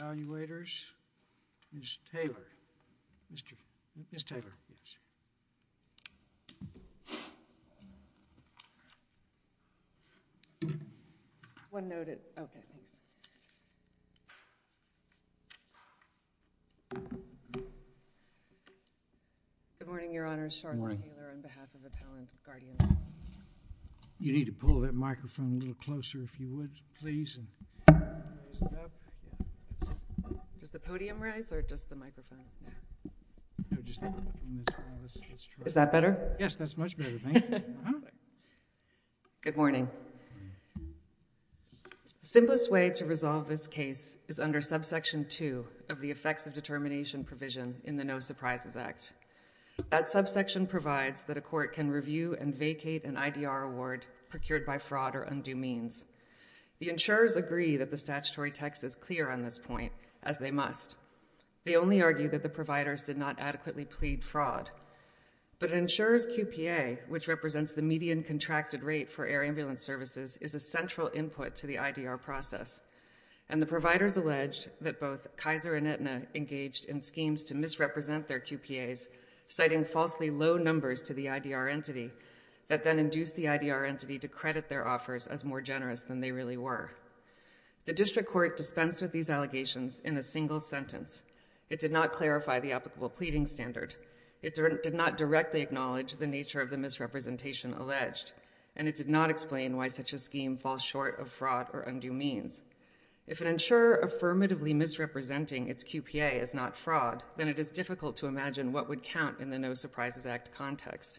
Ms. Taylor, Ms. Taylor, please. One note at, okay, thanks. Good morning, Your Honors, Charlotte Taylor on behalf of the Pallant of Guardian. You need to pull that microphone a little closer, if you would, please, and raise it up. Does the podium rise or just the microphone? Is that better? Yes, that's much better, thank you. Good morning. The simplest way to resolve this case is under subsection 2 of the effects of determination provision in the No Surprises Act. That subsection provides that a court can review and vacate an IDR award procured by fraud or undue means. The insurers agree that the statutory text is clear on this point, as they must. They only argue that the providers did not adequately plead fraud. But an insurer's QPA, which represents the median contracted rate for air ambulance services, is a central input to the IDR process. And the providers alleged that both Kaiser and Aetna engaged in schemes to misrepresent their QPAs, citing falsely low numbers to the IDR entity, that then induced the IDR entity to credit their offers as more generous than they really were. The district court dispensed with these allegations in a single sentence. It did not clarify the applicable pleading standard. It did not directly acknowledge the nature of the misrepresentation alleged. And it did not explain why such a scheme falls short of fraud or undue means. If an insurer affirmatively misrepresenting its QPA is not fraud, then it is difficult to imagine what would count in the No Surprises Act context.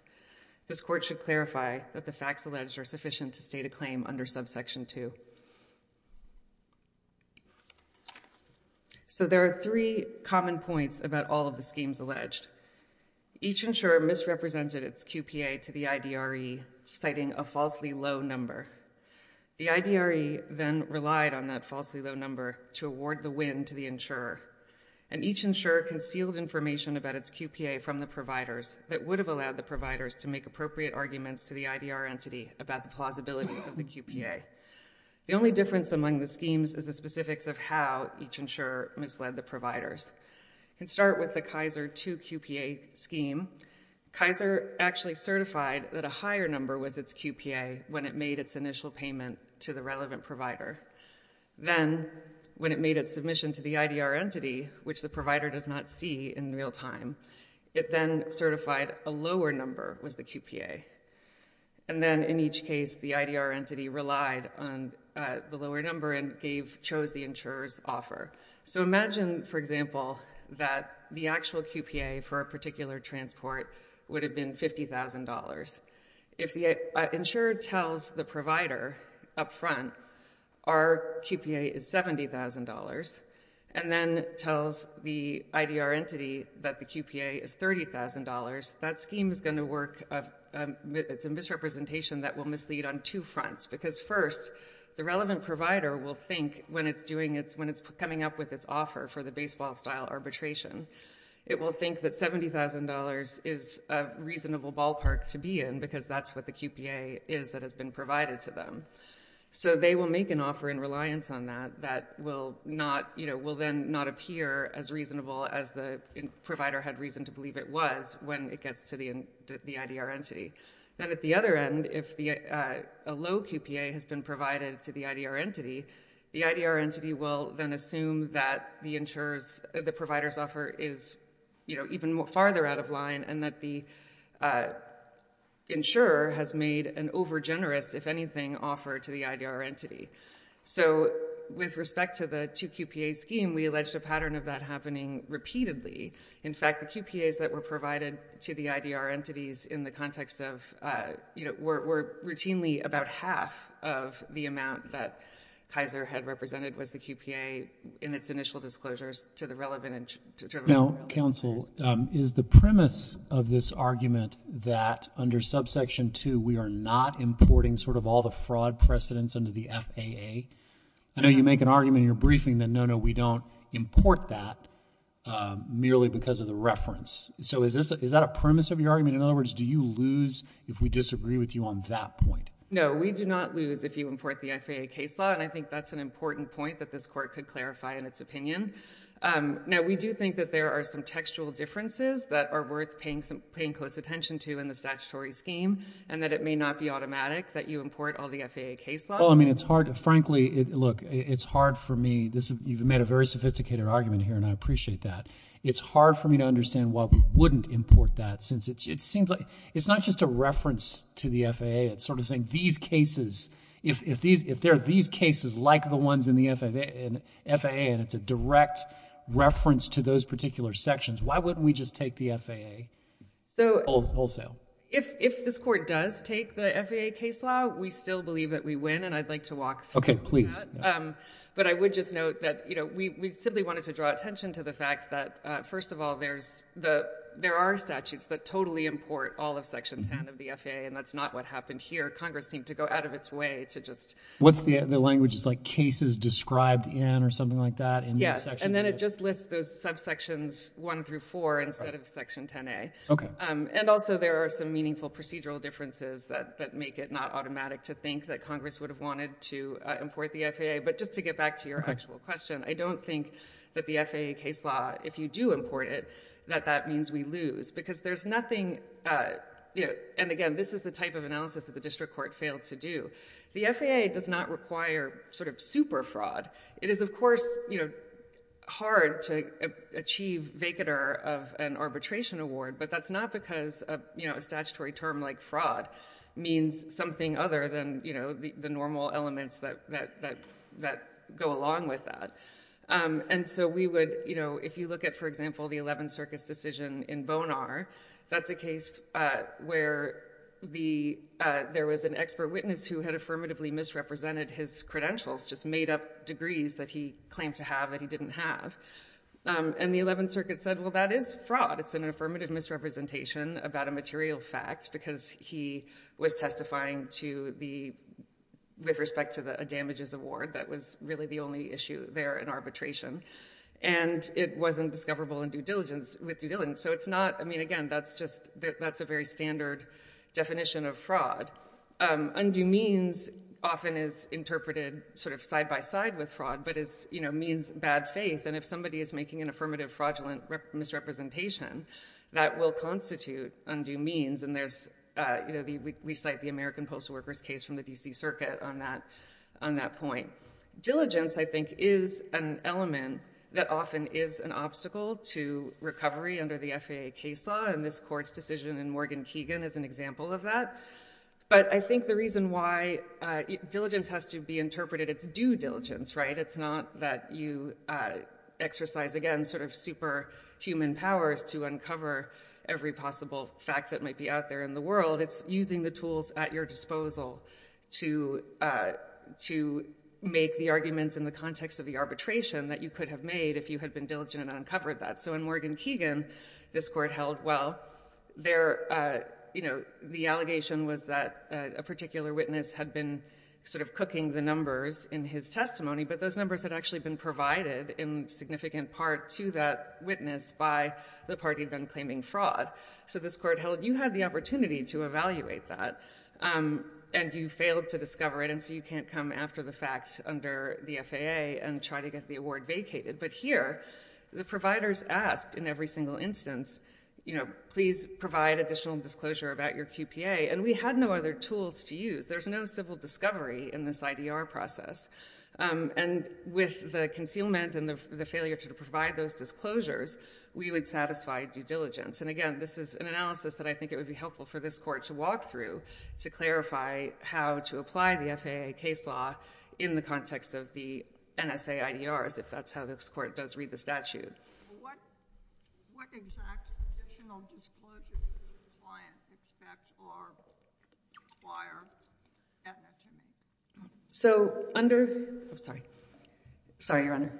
This court should clarify that the facts alleged are sufficient to state a claim under subsection 2. So there are three common points about all of the schemes alleged. Each insurer misrepresented its QPA to the IDRE, citing a falsely low number. The IDRE then relied on that falsely low number to award the win to the insurer. And each insurer concealed information about its QPA from the providers that would have allowed the providers to make appropriate arguments to the IDR entity about the plausibility of the QPA. The only difference among the schemes is the specifics of how each insurer misled the providers. We can start with the Kaiser 2 QPA scheme. Kaiser actually certified that a higher number was its QPA when it made its initial payment to the relevant provider. Then, when it made its submission to the IDR entity, which the provider does not see in real time, it then certified a lower number was the QPA. And then, in each case, the IDR entity relied on the lower number and chose the insurer's offer. So imagine, for example, that the actual QPA for a particular transport would have been $50,000. If the insurer tells the provider up front, our QPA is $70,000, and then tells the IDR entity that the QPA is $30,000, that scheme is going to work a misrepresentation that will mislead on two fronts. Because, first, the relevant provider will think, when it's coming up with its offer for the baseball-style arbitration, it will think that $70,000 is a reasonable ballpark to be in because that's what the QPA is that has been provided to them. So they will make an offer in reliance on that that will then not appear as reasonable as the provider had reason to believe it was when it gets to the IDR entity. Then, at the other end, if a low QPA has been provided to the IDR entity, the IDR entity will then assume that the provider's offer is even farther out of line and that the insurer has made an overgenerous, if anything, offer to the IDR entity. So, with respect to the two-QPA scheme, we alleged a pattern of that happening repeatedly. In fact, the QPAs that were provided to the IDR entities in the context of, you know, were routinely about half of the amount that Kaiser had represented was the QPA in its initial disclosures to the relevant entity. Now, counsel, is the premise of this argument that, under subsection 2, we are not importing sort of all the fraud precedents under the FAA? I know you make an argument in your briefing that, no, no, we don't import that merely because of the reference. So is that a premise of your argument? In other words, do you lose if we disagree with you on that point? No, we do not lose if you import the FAA case law, and I think that's an important point that this Court could clarify in its opinion. Now, we do think that there are some textual differences that are worth paying close attention to in the statutory scheme and that it may not be automatic that you import all the FAA case law. Oh, I mean, it's hard. Frankly, look, it's hard for me. You've made a very sophisticated argument here, and I appreciate that. It's hard for me to understand why we wouldn't import that since it seems like it's not just a reference to the FAA. It's sort of saying these cases, if there are these cases like the ones in the FAA and it's a direct reference to those particular sections, why wouldn't we just take the FAA wholesale? If this Court does take the FAA case law, we still believe that we win, and I'd like to walk through that. Okay, please. But I would just note that we simply wanted to draw attention to the fact that, first of all, there are statutes that totally import all of Section 10 of the FAA, and that's not what happened here. Congress seemed to go out of its way to just— What's the language? It's like cases described in or something like that? Yes, and then it just lists those subsections 1 through 4 instead of Section 10A. Okay. And also there are some meaningful procedural differences that make it not automatic to think that Congress would have wanted to import the FAA. But just to get back to your actual question, I don't think that the FAA case law, if you do import it, that that means we lose because there's nothing—and again, this is the type of analysis that the District Court failed to do. The FAA does not require sort of super fraud. It is, of course, hard to achieve vacater of an arbitration award, but that's not because a statutory term like fraud means something other than the normal elements that go along with that. And so we would—if you look at, for example, the 11th Circus decision in Bonar, that's a case where there was an expert witness who had affirmatively misrepresented his credentials, just made up degrees that he claimed to have that he didn't have. And the 11th Circuit said, well, that is fraud. It's an affirmative misrepresentation about a material fact because he was testifying with respect to a damages award. That was really the only issue there in arbitration. And it wasn't discoverable in due diligence with due diligence. So it's not—I mean, again, that's just—that's a very standard definition of fraud. Undue means often is interpreted sort of side-by-side with fraud, but it means bad faith. And if somebody is making an affirmative fraudulent misrepresentation, that will constitute undue means. And there's—we cite the American Postal Workers case from the D.C. Circuit on that point. Diligence, I think, is an element that often is an obstacle to recovery under the FAA case law, and this court's decision in Morgan Keegan is an example of that. But I think the reason why—diligence has to be interpreted as due diligence, right? It's not that you exercise, again, sort of superhuman powers to uncover every possible fact that might be out there in the world. It's using the tools at your disposal to make the arguments in the context of the arbitration that you could have made if you had been diligent and uncovered that. So in Morgan Keegan, this court held, well, their—you know, the allegation was that a particular witness had been sort of cooking the numbers in his testimony, but those numbers had actually been provided in significant part to that witness by the party then claiming fraud. So this court held you had the opportunity to evaluate that, and you failed to discover it, and so you can't come after the facts under the FAA and try to get the award vacated. But here, the providers asked in every single instance, you know, please provide additional disclosure about your QPA, and we had no other tools to use. There's no civil discovery in this IDR process. And with the concealment and the failure to provide those disclosures, we would satisfy due diligence. And again, this is an analysis that I think it would be helpful for this court to walk through to clarify how to apply the FAA case law in the context of the NSA IDRs, if that's how this court does read the statute. So under—oh, sorry. Sorry, Your Honor.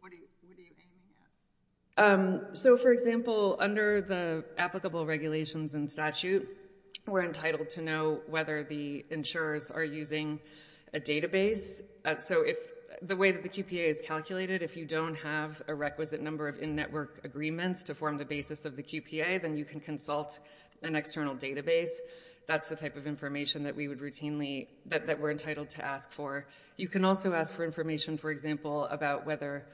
What do you think? So, for example, under the applicable regulations and statute, we're entitled to know whether the insurers are using a database. So the way that the QPA is calculated, if you don't have a requisite number of in-network agreements to form the basis of the QPA, then you can consult an external database. That's the type of information that we would routinely—that we're entitled to ask for. You can also ask for information, for example, about whether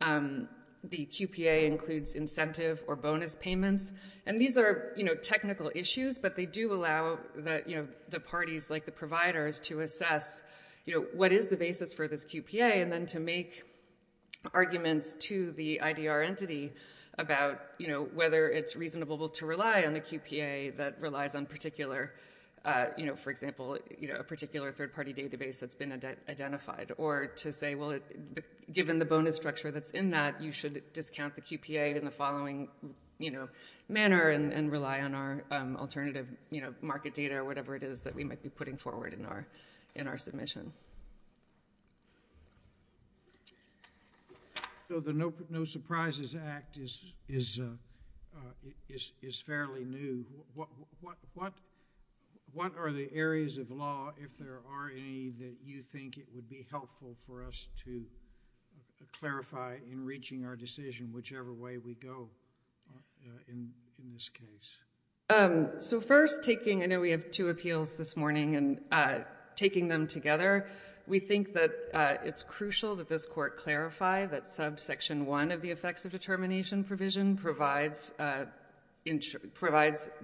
the QPA includes incentive or bonus payments. And these are technical issues, but they do allow the parties, like the providers, to assess what is the basis for this QPA and then to make arguments to the IDR entity about whether it's reasonable to rely on the QPA that relies on particular— for example, a particular third-party database that's been identified. Or to say, well, given the bonus structure that's in that, you should discount the QPA in the following manner and rely on our alternative market data or whatever it is that we might be putting forward in our submission. So the No Surprises Act is fairly new. What are the areas of law, if there are any, that you think it would be helpful for us to clarify in reaching our decision, whichever way we go in this case? So first, taking—I know we have two appeals this morning, and taking them together, we think that it's crucial that this Court clarify that subsection 1 of the effects of determination provision provides the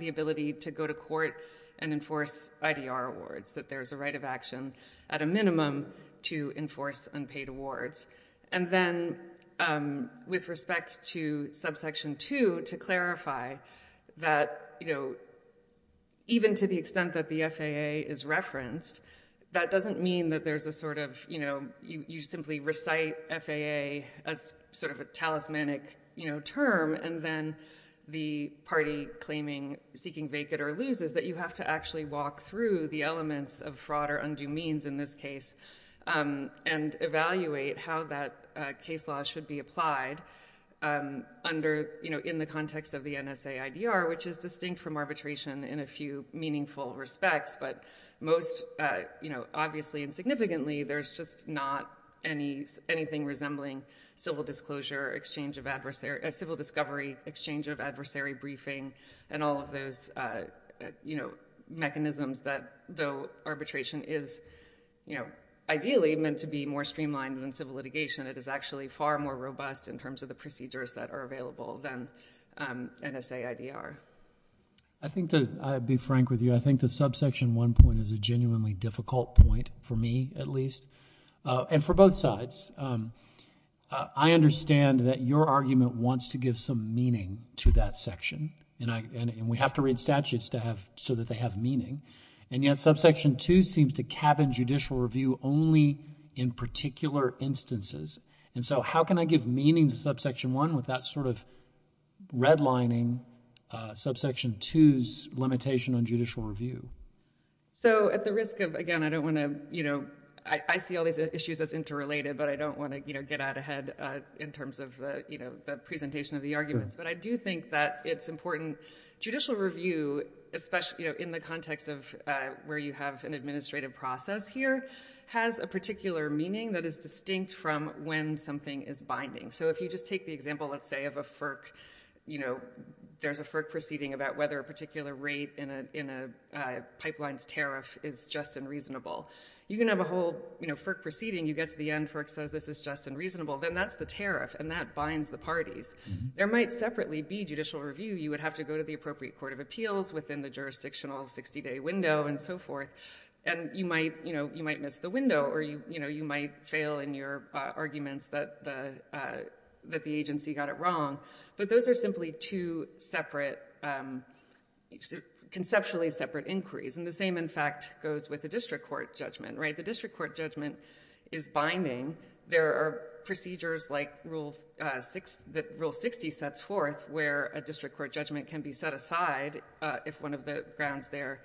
ability to go to court and enforce IDR awards, that there is a right of action at a minimum to enforce unpaid awards. And then with respect to subsection 2, to clarify that even to the extent that the FAA is referenced, that doesn't mean that there's a sort of—you simply recite FAA as sort of a talismanic term and then the party claiming, seeking vacant or loses, that you have to actually walk through the elements of fraud or undue means in this case and evaluate how that case law should be applied in the context of the NSA IDR, which is distinct from arbitration in a few meaningful respects, but most obviously and significantly, there's just not anything resembling civil disclosure, exchange of adversary—civil discovery, exchange of adversary briefing, and all of those, you know, mechanisms that, though arbitration is, you know, ideally meant to be more streamlined than civil litigation, it is actually far more robust in terms of the procedures that are available than NSA IDR. I think that—I'll be frank with you. I think the subsection 1 point is a genuinely difficult point, for me at least, and for both sides. I understand that your argument wants to give some meaning to that section, and we have to read statutes to have—so that they have meaning, and yet subsection 2 seems to cabin judicial review only in particular instances, and so how can I give meaning to subsection 1 with that sort of redlining, subsection 2's limitation on judicial review? So at the risk of—again, I don't want to, you know— I see all these issues as interrelated, but I don't want to, you know, get out ahead in terms of, you know, the presentation of the arguments, but I do think that it's important. Judicial review, especially, you know, in the context of where you have an administrative process here, has a particular meaning that is distinct from when something is binding. So if you just take the example, let's say, of a FERC, you know, there's a FERC proceeding about whether a particular rate in a pipeline's tariff is just and reasonable. You can have a whole, you know, FERC proceeding. You get to the end, FERC says this is just and reasonable, then that's the tariff, and that binds the parties. There might separately be judicial review. You would have to go to the appropriate court of appeals within the jurisdictional 60-day window and so forth, and you might, you know, you might miss the window, or, you know, you might fail in your arguments that the agency got it wrong, but those are simply two separate, conceptually separate inquiries, and the same, in fact, goes with the district court judgment, right? The district court judgment is binding. There are procedures like Rule 60 sets forth where a district court judgment can be set aside if one of the grounds there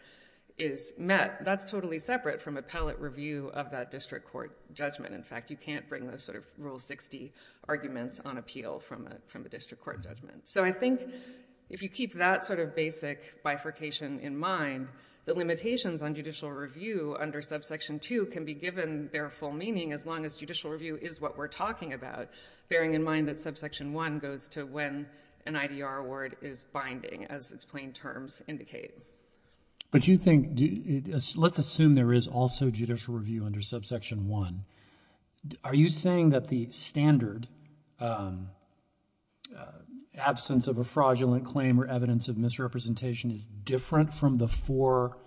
is met. That's totally separate from appellate review of that district court judgment. In fact, you can't bring those sort of Rule 60 arguments on appeal from a district court judgment. So I think if you keep that sort of basic bifurcation in mind, the limitations on judicial review under Subsection 2 can be given their full meaning as long as judicial review is what we're talking about, bearing in mind that Subsection 1 goes to when an IDR award is binding, as its plain terms indicate. But you think, let's assume there is also judicial review under Subsection 1. Are you saying that the standard absence of a fraudulent claim or evidence of misrepresentation is different from the four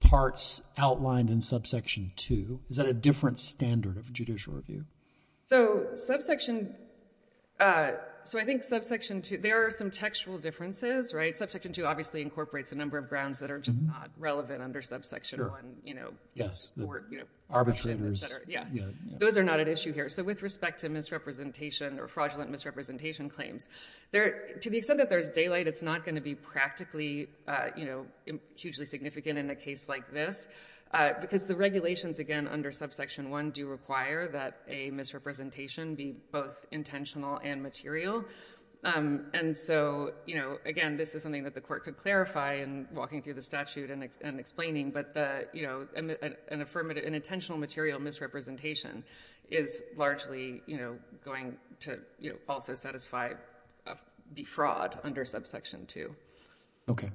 parts outlined in Subsection 2? Is that a different standard of judicial review? So I think there are some textual differences, right? Subsection 2 obviously incorporates a number of grounds that are just not relevant under Subsection 1. Yes. Arbitrators. Yeah. Those are not at issue here. So with respect to misrepresentation or fraudulent misrepresentation claims, to the extent that there's daylight, it's not going to be practically hugely significant in a case like this because the regulations, again, under Subsection 1 do require that a misrepresentation be both intentional and material. And so, again, this is something that the court could clarify in walking through the statute and explaining, but an intentional material misrepresentation is largely going to also satisfy defraud under Subsection 2. Okay.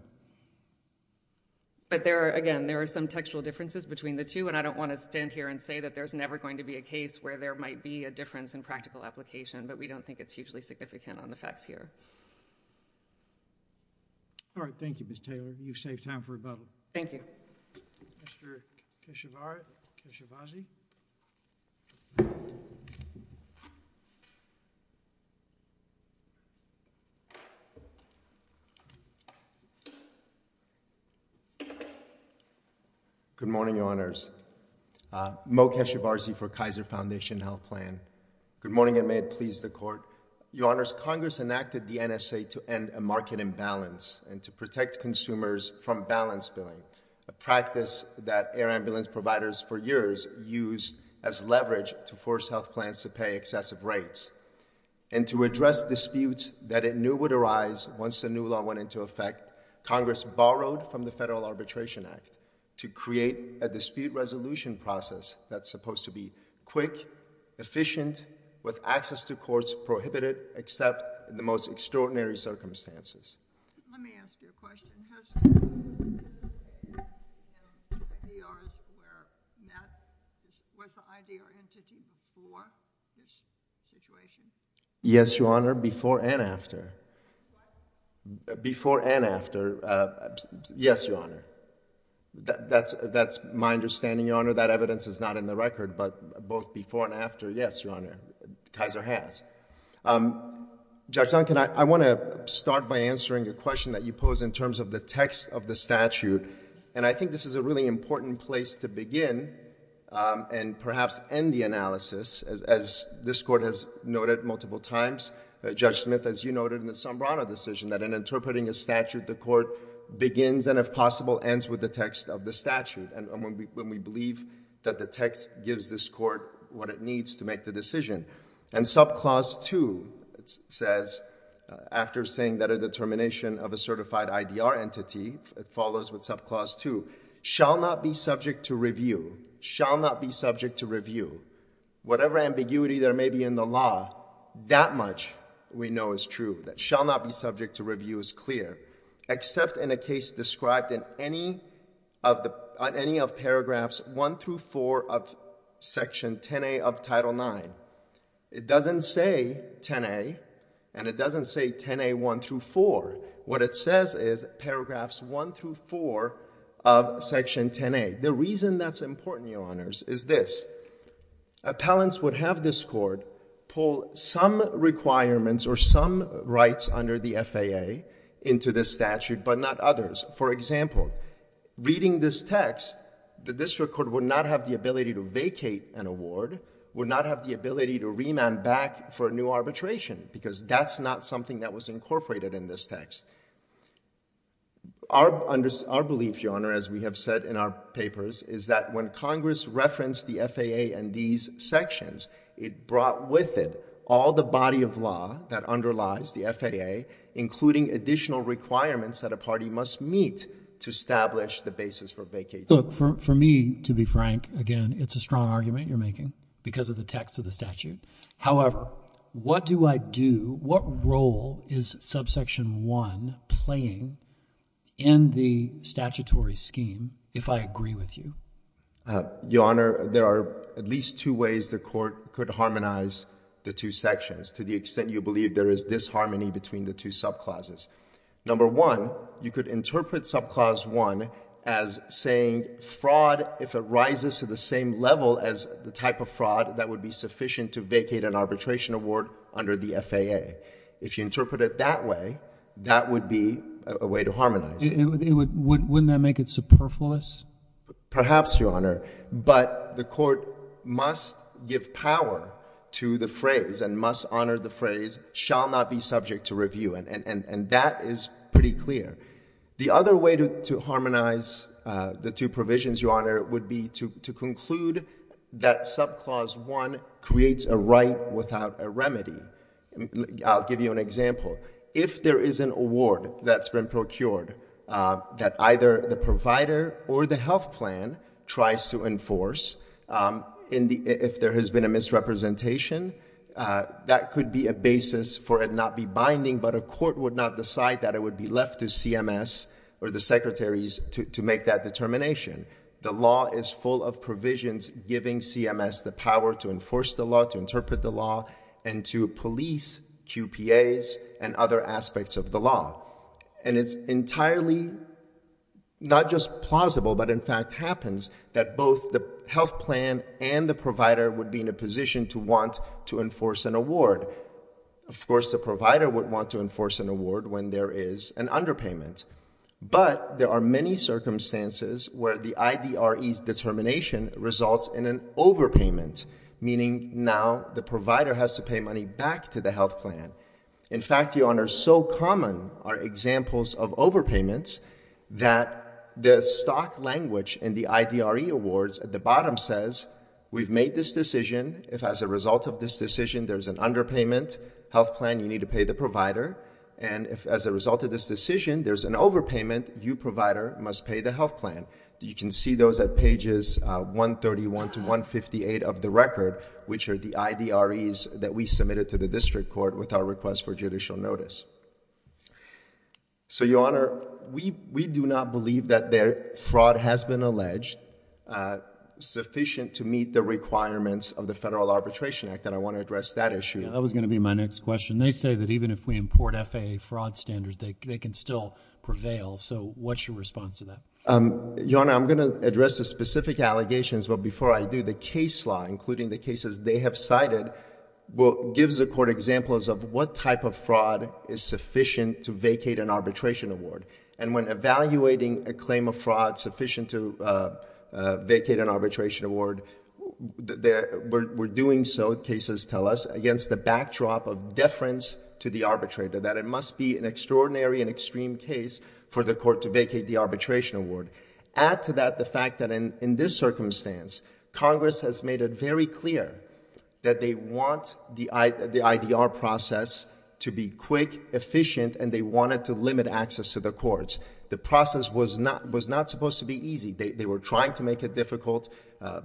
But, again, there are some textual differences between the two, and I don't want to stand here and say that there's never going to be a case where there might be a difference in practical application, but we don't think it's hugely significant on the facts here. All right. Thank you, Ms. Taylor. You've saved time for rebuttal. Thank you. Mr. Keshevarzy. Good morning, Your Honors. Mo Keshevarzy for Kaiser Foundation Health Plan. Good morning, and may it please the Court. Your Honors, Congress enacted the NSA to end a market imbalance and to protect consumers from balance billing, a practice that air ambulance providers for years used as leverage to force health plans to pay excessive rates. And to address disputes that it knew would arise once the new law went into effect, Congress borrowed from the Federal Arbitration Act to create a dispute resolution process that's supposed to be quick, efficient, and with access to courts prohibited except in the most extraordinary circumstances. Let me ask you a question. Was the IDR entity before this situation? Yes, Your Honor, before and after. What? Before and after. Yes, Your Honor. That's my understanding, Your Honor. That evidence is not in the record, but both before and after. Yes, Your Honor, Kaiser has. Judge Duncan, I want to start by answering a question that you pose in terms of the text of the statute. And I think this is a really important place to begin and perhaps end the analysis, as this Court has noted multiple times. Judge Smith, as you noted in the Sombrano decision, that in interpreting a statute, the Court begins and, if possible, ends with the text of the statute. And when we believe that the text gives this Court what it needs to make the decision. And Subclause 2 says, after saying that a determination of a certified IDR entity follows with Subclause 2, shall not be subject to review. Shall not be subject to review. Whatever ambiguity there may be in the law, that much we know is true. That shall not be subject to review is clear. Except in a case described in any of paragraphs 1 through 4 of Section 10A of Title IX. It doesn't say 10A, and it doesn't say 10A 1 through 4. What it says is paragraphs 1 through 4 of Section 10A. The reason that's important, Your Honors, is this. Appellants would have this Court pull some requirements or some rights under the FAA into this statute, but not others. For example, reading this text, the district court would not have the ability to vacate an award, would not have the ability to remand back for a new arbitration, because that's not something that was incorporated in this text. Our belief, Your Honor, as we have said in our papers, is that when Congress referenced the FAA and these sections, it brought with it all the body of law that underlies the FAA, including additional requirements that a party must meet to establish the basis for vacating. For me, to be frank, again, it's a strong argument you're making because of the text of the statute. However, what do I do? What role is subsection 1 playing in the statutory scheme, if I agree with you? Your Honor, there are at least two ways the Court could harmonize the two sections to the extent you believe there is disharmony between the two subclauses. Number one, you could interpret subclause 1 as saying fraud, if it rises to the same level as the type of fraud, that would be sufficient to vacate an arbitration award under the FAA. If you interpret it that way, that would be a way to harmonize it. Wouldn't that make it superfluous? Perhaps, Your Honor, but the Court must give power to the phrase and must honor the phrase, shall not be subject to review, and that is pretty clear. The other way to harmonize the two provisions, Your Honor, would be to conclude that subclause 1 creates a right without a remedy. I'll give you an example. If there is an award that's been procured that either the provider or the health plan tries to enforce, if there has been a misrepresentation, that could be a basis for it not be binding, but a court would not decide that it would be left to CMS or the secretaries to make that determination. The law is full of provisions giving CMS the power to enforce the law, to interpret the law, and to police QPAs and other aspects of the law. And it's entirely not just plausible, but in fact happens, that both the health plan and the provider would be in a position to want to enforce an award. Of course, the provider would want to enforce an award when there is an underpayment. But there are many circumstances where the IDRE's determination results in an overpayment, meaning now the provider has to pay money back to the health plan. In fact, Your Honor, so common are examples of overpayments that the stock language in the IDRE awards at the bottom says, we've made this decision. If as a result of this decision there's an underpayment, health plan, you need to pay the provider. And if as a result of this decision there's an overpayment, you, provider, must pay the health plan. You can see those at pages 131 to 158 of the record, which are the IDREs that we submitted to the district court with our request for judicial notice. So, Your Honor, we do not believe that fraud has been alleged sufficient to meet the requirements of the Federal Arbitration Act, and I want to address that issue. That was going to be my next question. They say that even if we import FAA fraud standards, they can still prevail, so what's your response to that? Your Honor, I'm going to address the specific allegations, but before I do, the case law, including the cases they have cited, gives the court examples of what type of fraud is sufficient to vacate an arbitration award. And when evaluating a claim of fraud sufficient to vacate an arbitration award, we're doing so, cases tell us, against the backdrop of deference to the arbitrator, that it must be an extraordinary and extreme case for the court to vacate the arbitration award. Add to that the fact that in this circumstance, Congress has made it very clear that they want the IDR process to be quick, efficient, and they wanted to limit access to the courts. The process was not supposed to be easy. They were trying to make it difficult.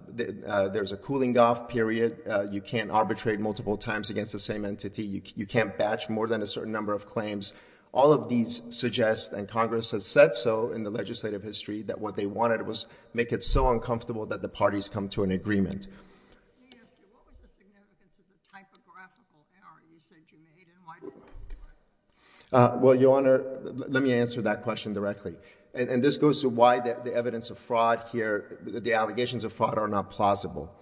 There's a cooling off period. You can't arbitrate multiple times against the same entity. You can't batch more than a certain number of claims. All of these suggest, and Congress has said so in the legislative history, that what they wanted was to make it so uncomfortable that the parties come to an agreement. Let me ask you, what was the significance of the typographical error you said you made, and why did you do it? Well, Your Honor, let me answer that question directly. And this goes to why the evidence of fraud here, the allegations of fraud, are not plausible.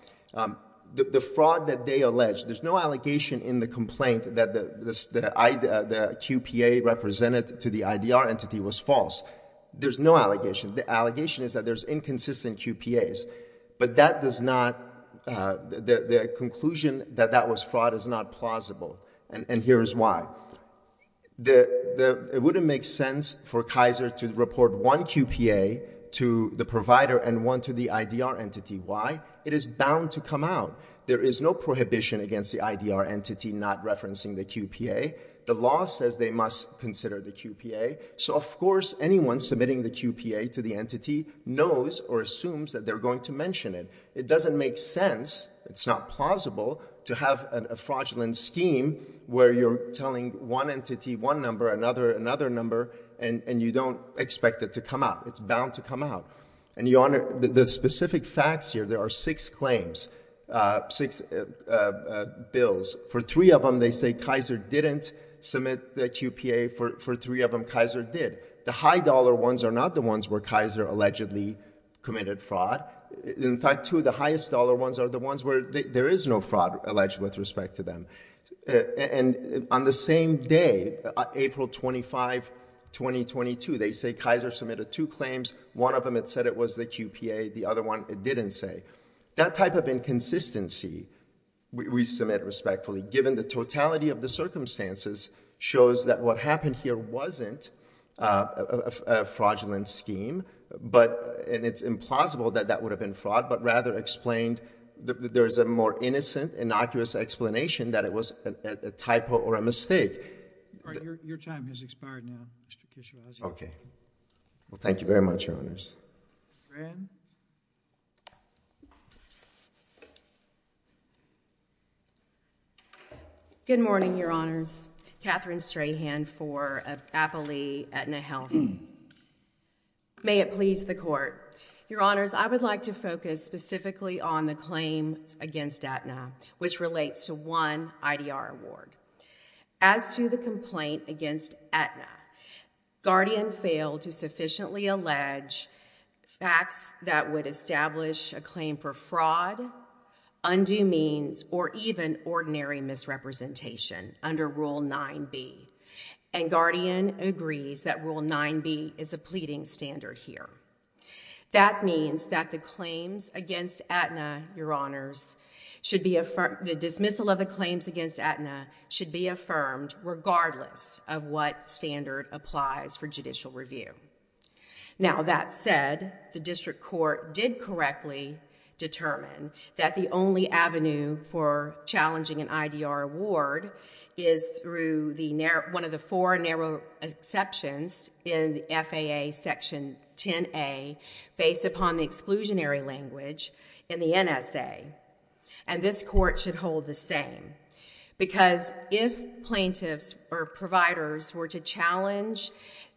The fraud that they allege, there's no allegation in the complaint that the QPA represented to the IDR entity was false. There's no allegation. The allegation is that there's inconsistent QPAs. But that does not, the conclusion that that was fraud is not plausible. And here is why. It wouldn't make sense for Kaiser to report one QPA to the provider and one to the IDR entity. Why? It is bound to come out. There is no prohibition against the IDR entity not referencing the QPA. The law says they must consider the QPA. So, of course, anyone submitting the QPA to the entity knows or assumes that they're going to mention it. It doesn't make sense. It's not plausible to have a fraudulent scheme where you're telling one entity one number, another another number, and you don't expect it to come out. It's bound to come out. And, Your Honor, the specific facts here, there are six claims, six bills. For three of them, they say Kaiser didn't submit the QPA. For three of them, Kaiser did. The high-dollar ones are not the ones where Kaiser allegedly committed fraud. In fact, two of the highest-dollar ones are the ones where there is no fraud alleged with respect to them. And on the same day, April 25, 2022, they say Kaiser submitted two claims. One of them, it said it was the QPA. The other one, it didn't say. That type of inconsistency, we submit respectfully, given the totality of the circumstances, shows that what happened here wasn't a fraudulent scheme, and it's implausible that that would have been fraud, but rather explained that there is a more innocent, innocuous explanation that it was a typo or a mistake. Your time has expired now, Mr. Kishiraji. Okay. Well, thank you very much, Your Honors. Fran? Good morning, Your Honors. Katherine Strahan, IV of Appley, Aetna Health. May it please the Court. Your Honors, I would like to focus specifically on the claims against Aetna, which relates to one IDR award. As to the complaint against Aetna, Guardian failed to sufficiently allege facts that would establish a claim for fraud, undue means, or even ordinary misrepresentation under Rule 9b. And Guardian agrees that Rule 9b is a pleading standard here. That means that the dismissal of the claims against Aetna should be affirmed regardless of what standard applies for judicial review. Now, that said, the district court did correctly determine that the only avenue for challenging an IDR award is through one of the four narrow exceptions in the FAA Section 10a based upon the exclusionary language in the NSA. And this court should hold the same, because if plaintiffs or providers were to challenge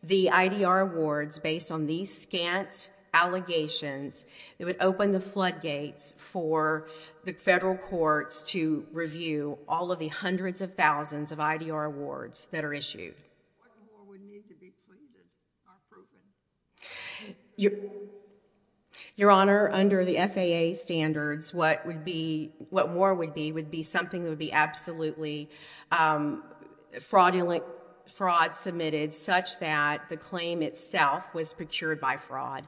the IDR awards based on these scant allegations, it would open the floodgates for the federal courts to review all of the hundreds of thousands of IDR awards that are issued. Your Honor, under the FAA standards, what more would be would be something that would be absolutely fraudulent, fraud submitted such that the claim itself was procured by fraud.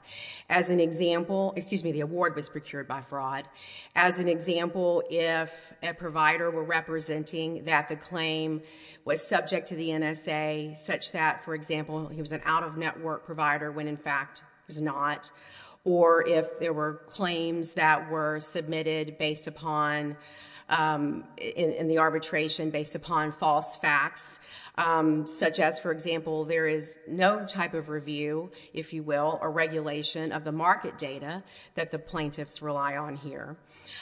As an example, excuse me, the award was procured by fraud. As an example, if a provider were representing that the claim was subject to the NSA such that, for example, he was an out-of-network provider when, in fact, he was not, or if there were claims that were submitted in the arbitration based upon false facts, such as, for example, there is no type of review, if you will, or regulation of the market data that the plaintiffs rely on here.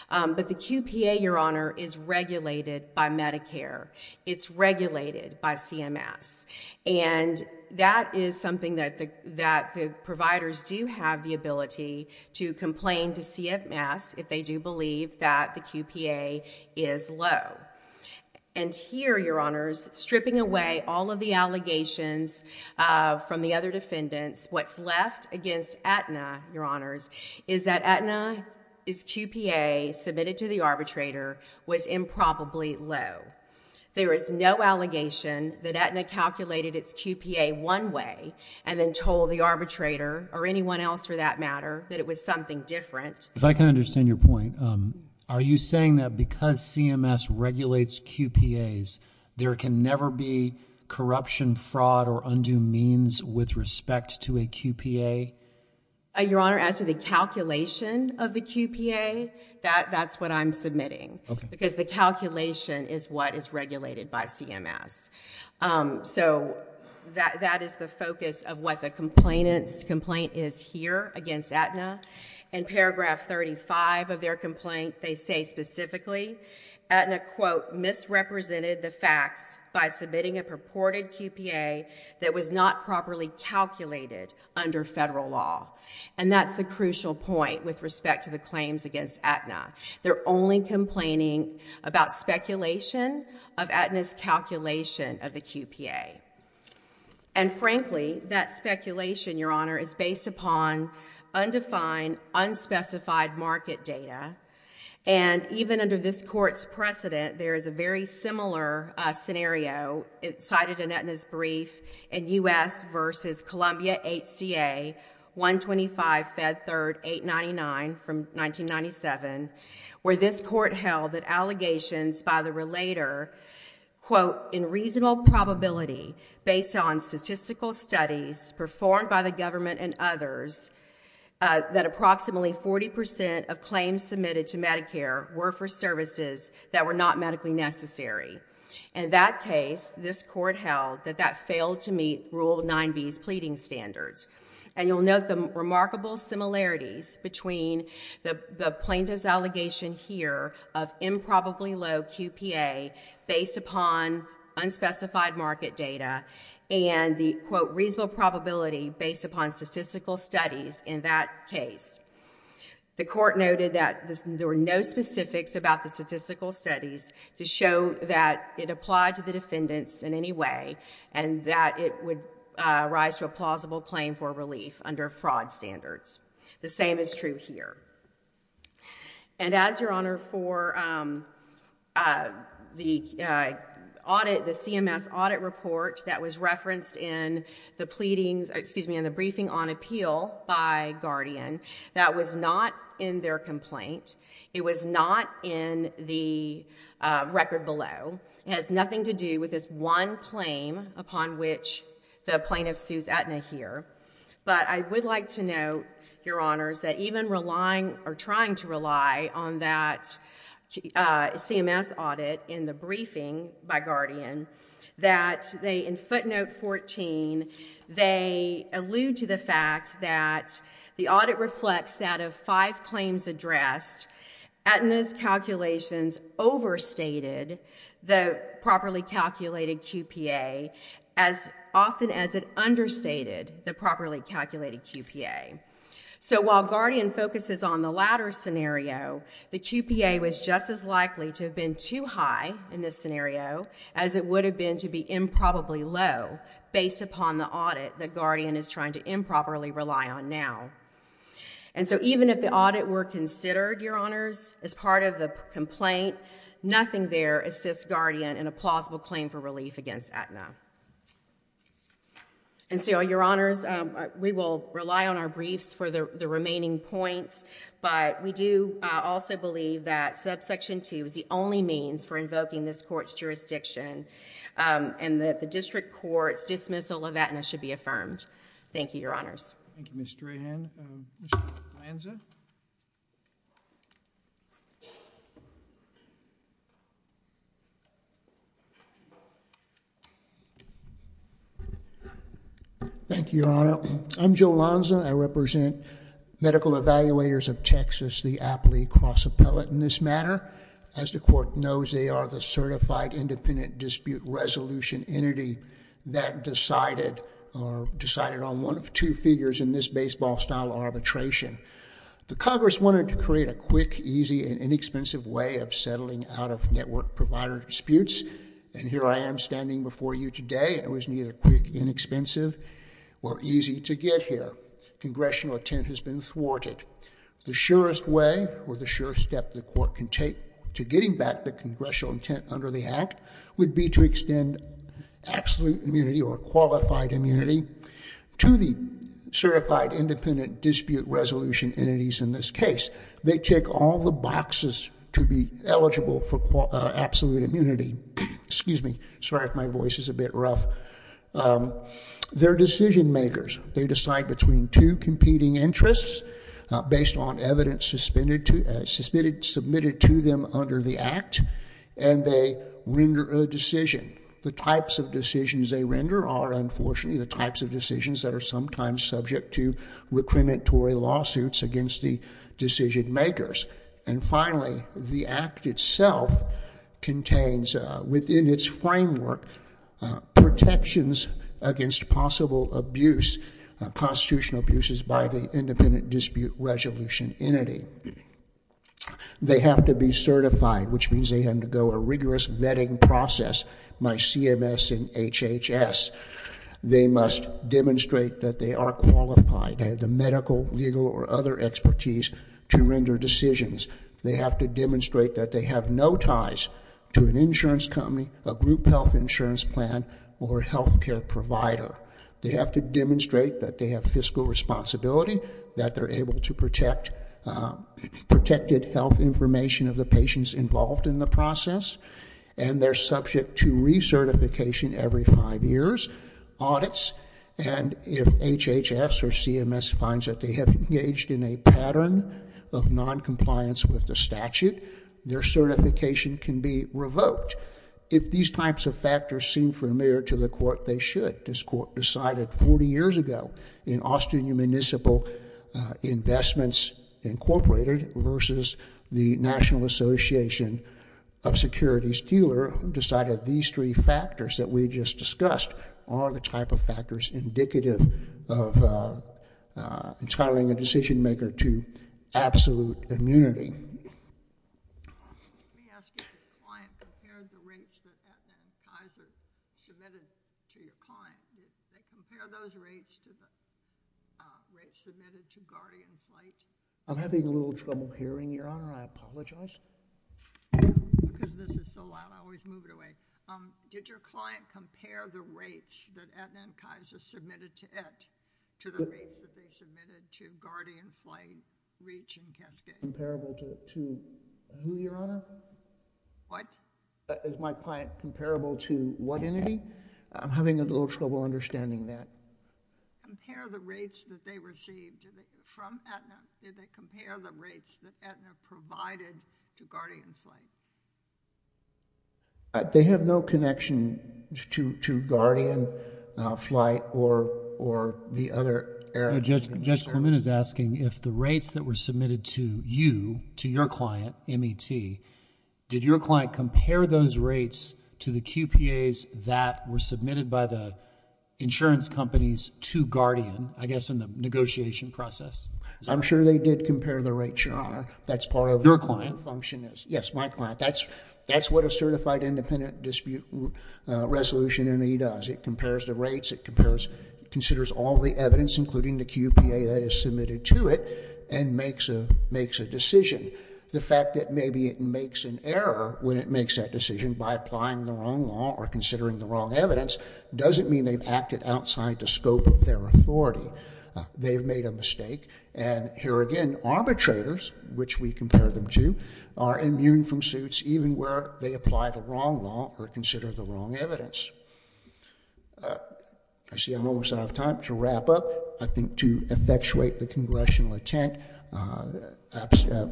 But the QPA, Your Honor, is regulated by Medicare. It's regulated by CMS. And that is something that the providers do have the ability to complain to CMS if they do believe that the QPA is low. And here, Your Honors, stripping away all of the allegations from the other defendants, what's left against Aetna, Your Honors, is that Aetna's QPA submitted to the arbitrator was improbably low. There is no allegation that Aetna calculated its QPA one way and then told the arbitrator, or anyone else for that matter, that it was something different. If I can understand your point, are you saying that because CMS regulates QPAs, there can never be corruption, fraud, or undue means with respect to a QPA? Your Honor, as to the calculation of the QPA, that's what I'm submitting. Because the calculation is what is regulated by CMS. So that is the focus of what the complainant's complaint is here against Aetna. In paragraph 35 of their complaint, they say specifically, Aetna, quote, misrepresented the facts by submitting a purported QPA that was not properly calculated under federal law. And that's the crucial point with respect to the claims against Aetna. They're only complaining about speculation of Aetna's calculation of the QPA. And frankly, that speculation, Your Honor, is based upon undefined, unspecified market data. And even under this Court's precedent, there is a very similar scenario. It's cited in Aetna's brief in U.S. v. Columbia HCA 125 Fed 3rd 899 from 1997, where this Court held that allegations by the relator, quote, in reasonable probability based on statistical studies performed by the government and others, that approximately 40% of claims submitted to Medicare were for services that were not medically necessary. In that case, this Court held that that failed to meet Rule 9b's pleading standards. And you'll note the remarkable similarities between the plaintiff's allegation here of improbably low QPA based upon unspecified market data and the, quote, reasonable probability based upon statistical studies in that case. The Court noted that there were no specifics about the statistical studies to show that it applied to the defendants in any way and that it would rise to a plausible claim for relief under fraud standards. The same is true here. And as, Your Honor, for the CMS audit report that was referenced in the briefing on appeal by Guardian, that was not in their complaint. It was not in the record below. It has nothing to do with this one claim upon which the plaintiff sues Aetna here. But I would like to note, Your Honors, that even relying or trying to rely on that CMS audit in the briefing by Guardian, that in footnote 14, they allude to the fact that the audit reflects that of five claims addressed. Aetna's calculations overstated the properly calculated QPA as often as it understated the properly calculated QPA. So while Guardian focuses on the latter scenario, the QPA was just as likely to have been too high in this scenario as it would have been to be improbably low based upon the audit that Guardian is trying to improperly rely on now. And so even if the audit were considered, Your Honors, as part of the complaint, nothing there assists Guardian in a plausible claim for relief against Aetna. And so, Your Honors, we will rely on our briefs for the remaining points, but we do also believe that subsection 2 is the only means for invoking this court's jurisdiction and that the district court's dismissal of Aetna should be affirmed. Thank you, Your Honors. Thank you, Ms. Drahan. Mr. Lanza? Thank you, Your Honor. I'm Joe Lanza. I represent Medical Evaluators of Texas, the Apley Cross Appellate. In this matter, as the court knows, they are the certified independent dispute resolution entity that decided on one of two figures in this baseball-style arbitration. The Congress wanted to create a quick, easy, and inexpensive way of settling out-of-network provider disputes, and here I am standing before you today. It was neither quick, inexpensive, or easy to get here. Congressional intent has been thwarted. The surest way, or the surest step, the court can take to getting back the congressional intent under the Act would be to extend absolute immunity or qualified immunity to the certified independent dispute resolution entities in this case. They tick all the boxes to be eligible for absolute immunity. Excuse me. Sorry if my voice is a bit rough. They're decision-makers. They decide between two competing interests based on evidence submitted to them under the Act, and they render a decision. The types of decisions they render are, unfortunately, the types of decisions that are sometimes subject to requerimentary lawsuits against the decision-makers. And finally, the Act itself contains, within its framework, protections against possible abuse, constitutional abuses by the independent dispute resolution entity. They have to be certified, which means they undergo a rigorous vetting process by CMS and HHS. They must demonstrate that they are qualified. They have the medical, legal, or other expertise to render decisions. They have to demonstrate that they have no ties to an insurance company, a group health insurance plan, or a health care provider. They have to demonstrate that they have fiscal responsibility, that they're able to protect protected health information of the patients involved in the process, and they're subject to recertification every five years, audits, and if HHS or CMS finds that they have engaged in a pattern of noncompliance with the statute, their certification can be revoked. If these types of factors seem familiar to the Court, they should. This Court decided 40 years ago in Austin Municipal Investments Incorporated versus the National Association of Securities Dealers who decided these three factors that we just discussed are the type of factors indicative of entitling a decision-maker to absolute immunity. Let me ask you if your client compared the rates that Aetna and Kaiser submitted to your client. Did they compare those rates to the rates submitted to Guardian Flight? I'm having a little trouble hearing, Your Honor. I apologize. Because this is so loud, I always move it away. Did your client compare the rates that Aetna and Kaiser submitted to it to the rates that they submitted to Guardian Flight, Reach, and Cascade? Comparable to who, Your Honor? What? Is my client comparable to what entity? I'm having a little trouble understanding that. Compare the rates that they received from Aetna. Did they compare the rates that Aetna provided to Guardian Flight? They have no connection to Guardian Flight or the other air service. Mr. Sherman is asking if the rates that were submitted to you, to your client, MET, did your client compare those rates to the QPAs that were submitted by the insurance companies to Guardian, I guess in the negotiation process? I'm sure they did compare the rates, Your Honor. That's part of their client function. Yes, my client. That's what a certified independent dispute resolution entity does. It compares the rates. It considers all the evidence, including the QPA that is submitted to it, and makes a decision. The fact that maybe it makes an error when it makes that decision by applying the wrong law or considering the wrong evidence doesn't mean they've acted outside the scope of their authority. They've made a mistake. And here again, arbitrators, which we compare them to, are immune from suits even where they apply the wrong law or consider the wrong evidence. I see I'm almost out of time. To wrap up, I think to effectuate the congressional intent,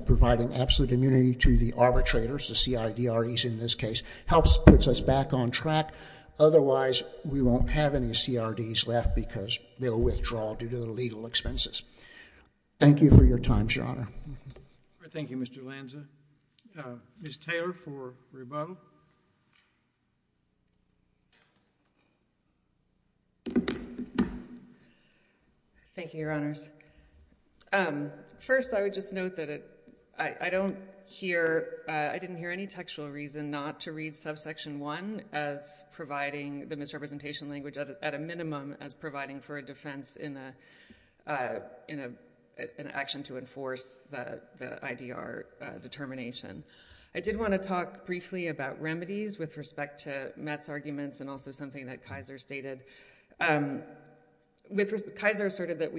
providing absolute immunity to the arbitrators, the CIDREs in this case, helps put us back on track. Otherwise, we won't have any CRDs left because they'll withdraw due to the legal expenses. Thank you for your time, Your Honor. Thank you, Mr. Lanza. Ms. Taylor for rebuttal. Thank you, Your Honors. First, I would just note that I didn't hear any textual reason not to read subsection 1 as providing the misrepresentation language at a minimum as providing for a defense in an action to enforce the IDR determination. I did want to talk briefly about remedies with respect to Matt's arguments and also something that Kaiser stated. Kaiser asserted that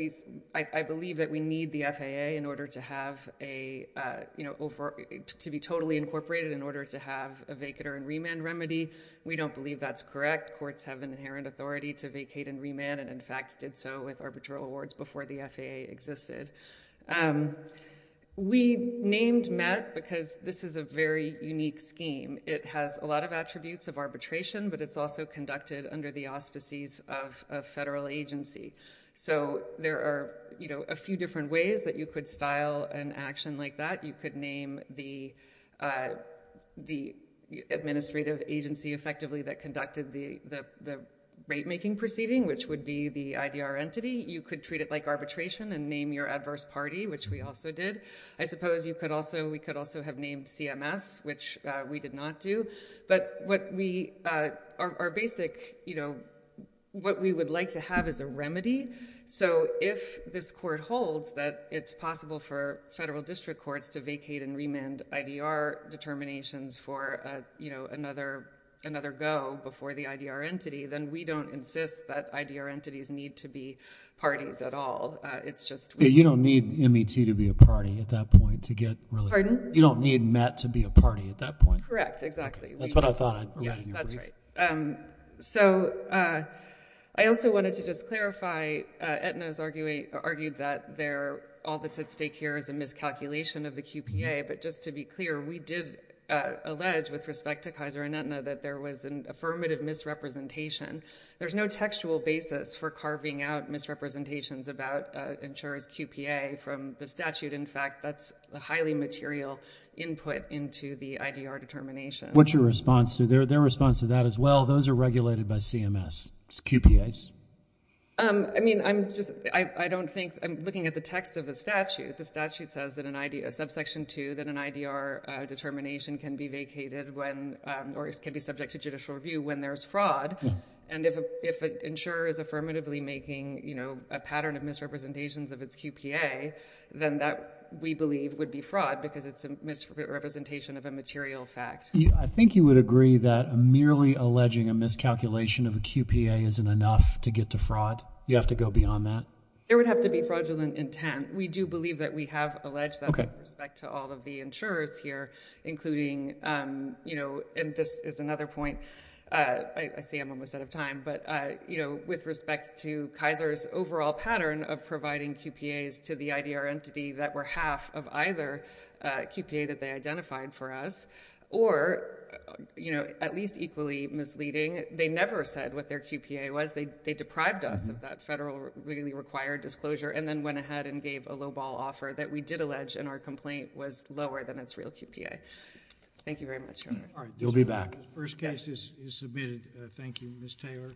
I believe that we need the FAA to be totally incorporated in order to have a vacater and remand remedy. We don't believe that's correct. Courts have an inherent authority to vacate and remand and, in fact, did so with arbitral awards before the FAA existed. We named Matt because this is a very unique scheme. It has a lot of attributes of arbitration, but it's also conducted under the auspices of a federal agency. So there are a few different ways that you could style an action like that. You could name the administrative agency, effectively, that conducted the rate-making proceeding, which would be the IDR entity. You could treat it like arbitration and name your adverse party, which we also did. I suppose we could also have named CMS, which we did not do. But our basic, what we would like to have is a remedy. So if this court holds that it's possible for federal district courts to vacate and remand IDR determinations for another go before the IDR entity, then we don't insist that IDR entities need to be parties at all. You don't need MET to be a party at that point. Pardon? You don't need MET to be a party at that point. Correct, exactly. That's what I thought. Yes, that's right. So I also wanted to just clarify, Aetna has argued that all that's at stake here is a miscalculation of the QPA, but just to be clear, we did allege, with respect to Kaiser and Aetna, that there was an affirmative misrepresentation. There's no textual basis for carving out misrepresentations about insurers' QPA from the statute. In fact, that's a highly material input into the IDR determination. What's your response to that? Their response to that is, well, those are regulated by CMS. It's QPAs. I mean, I'm looking at the text of the statute. The statute says in subsection 2 that an IDR determination can be vacated or can be subject to judicial review when there's fraud. And if an insurer is affirmatively making a pattern of misrepresentations of its QPA, then that, we believe, would be fraud because it's a misrepresentation of a material fact. I think you would agree that merely alleging a miscalculation of a QPA isn't enough to get to fraud. You have to go beyond that. There would have to be fraudulent intent. We do believe that we have alleged that with respect to all of the insurers here, including, you know, and this is another point. I see I'm almost out of time. But, you know, with respect to Kaiser's overall pattern of providing QPAs to the IDR entity that were half of either QPA that they identified for us or, you know, at least equally misleading, they never said what their QPA was. They deprived us of that federally required disclosure and then went ahead and gave a lowball offer that we did allege and our complaint was lower than its real QPA. Thank you very much, Your Honor. You'll be back. The first case is submitted. Thank you, Ms. Taylor.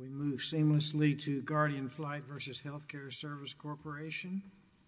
We move seamlessly to Guardian Flight v. Healthcare Service Corporation.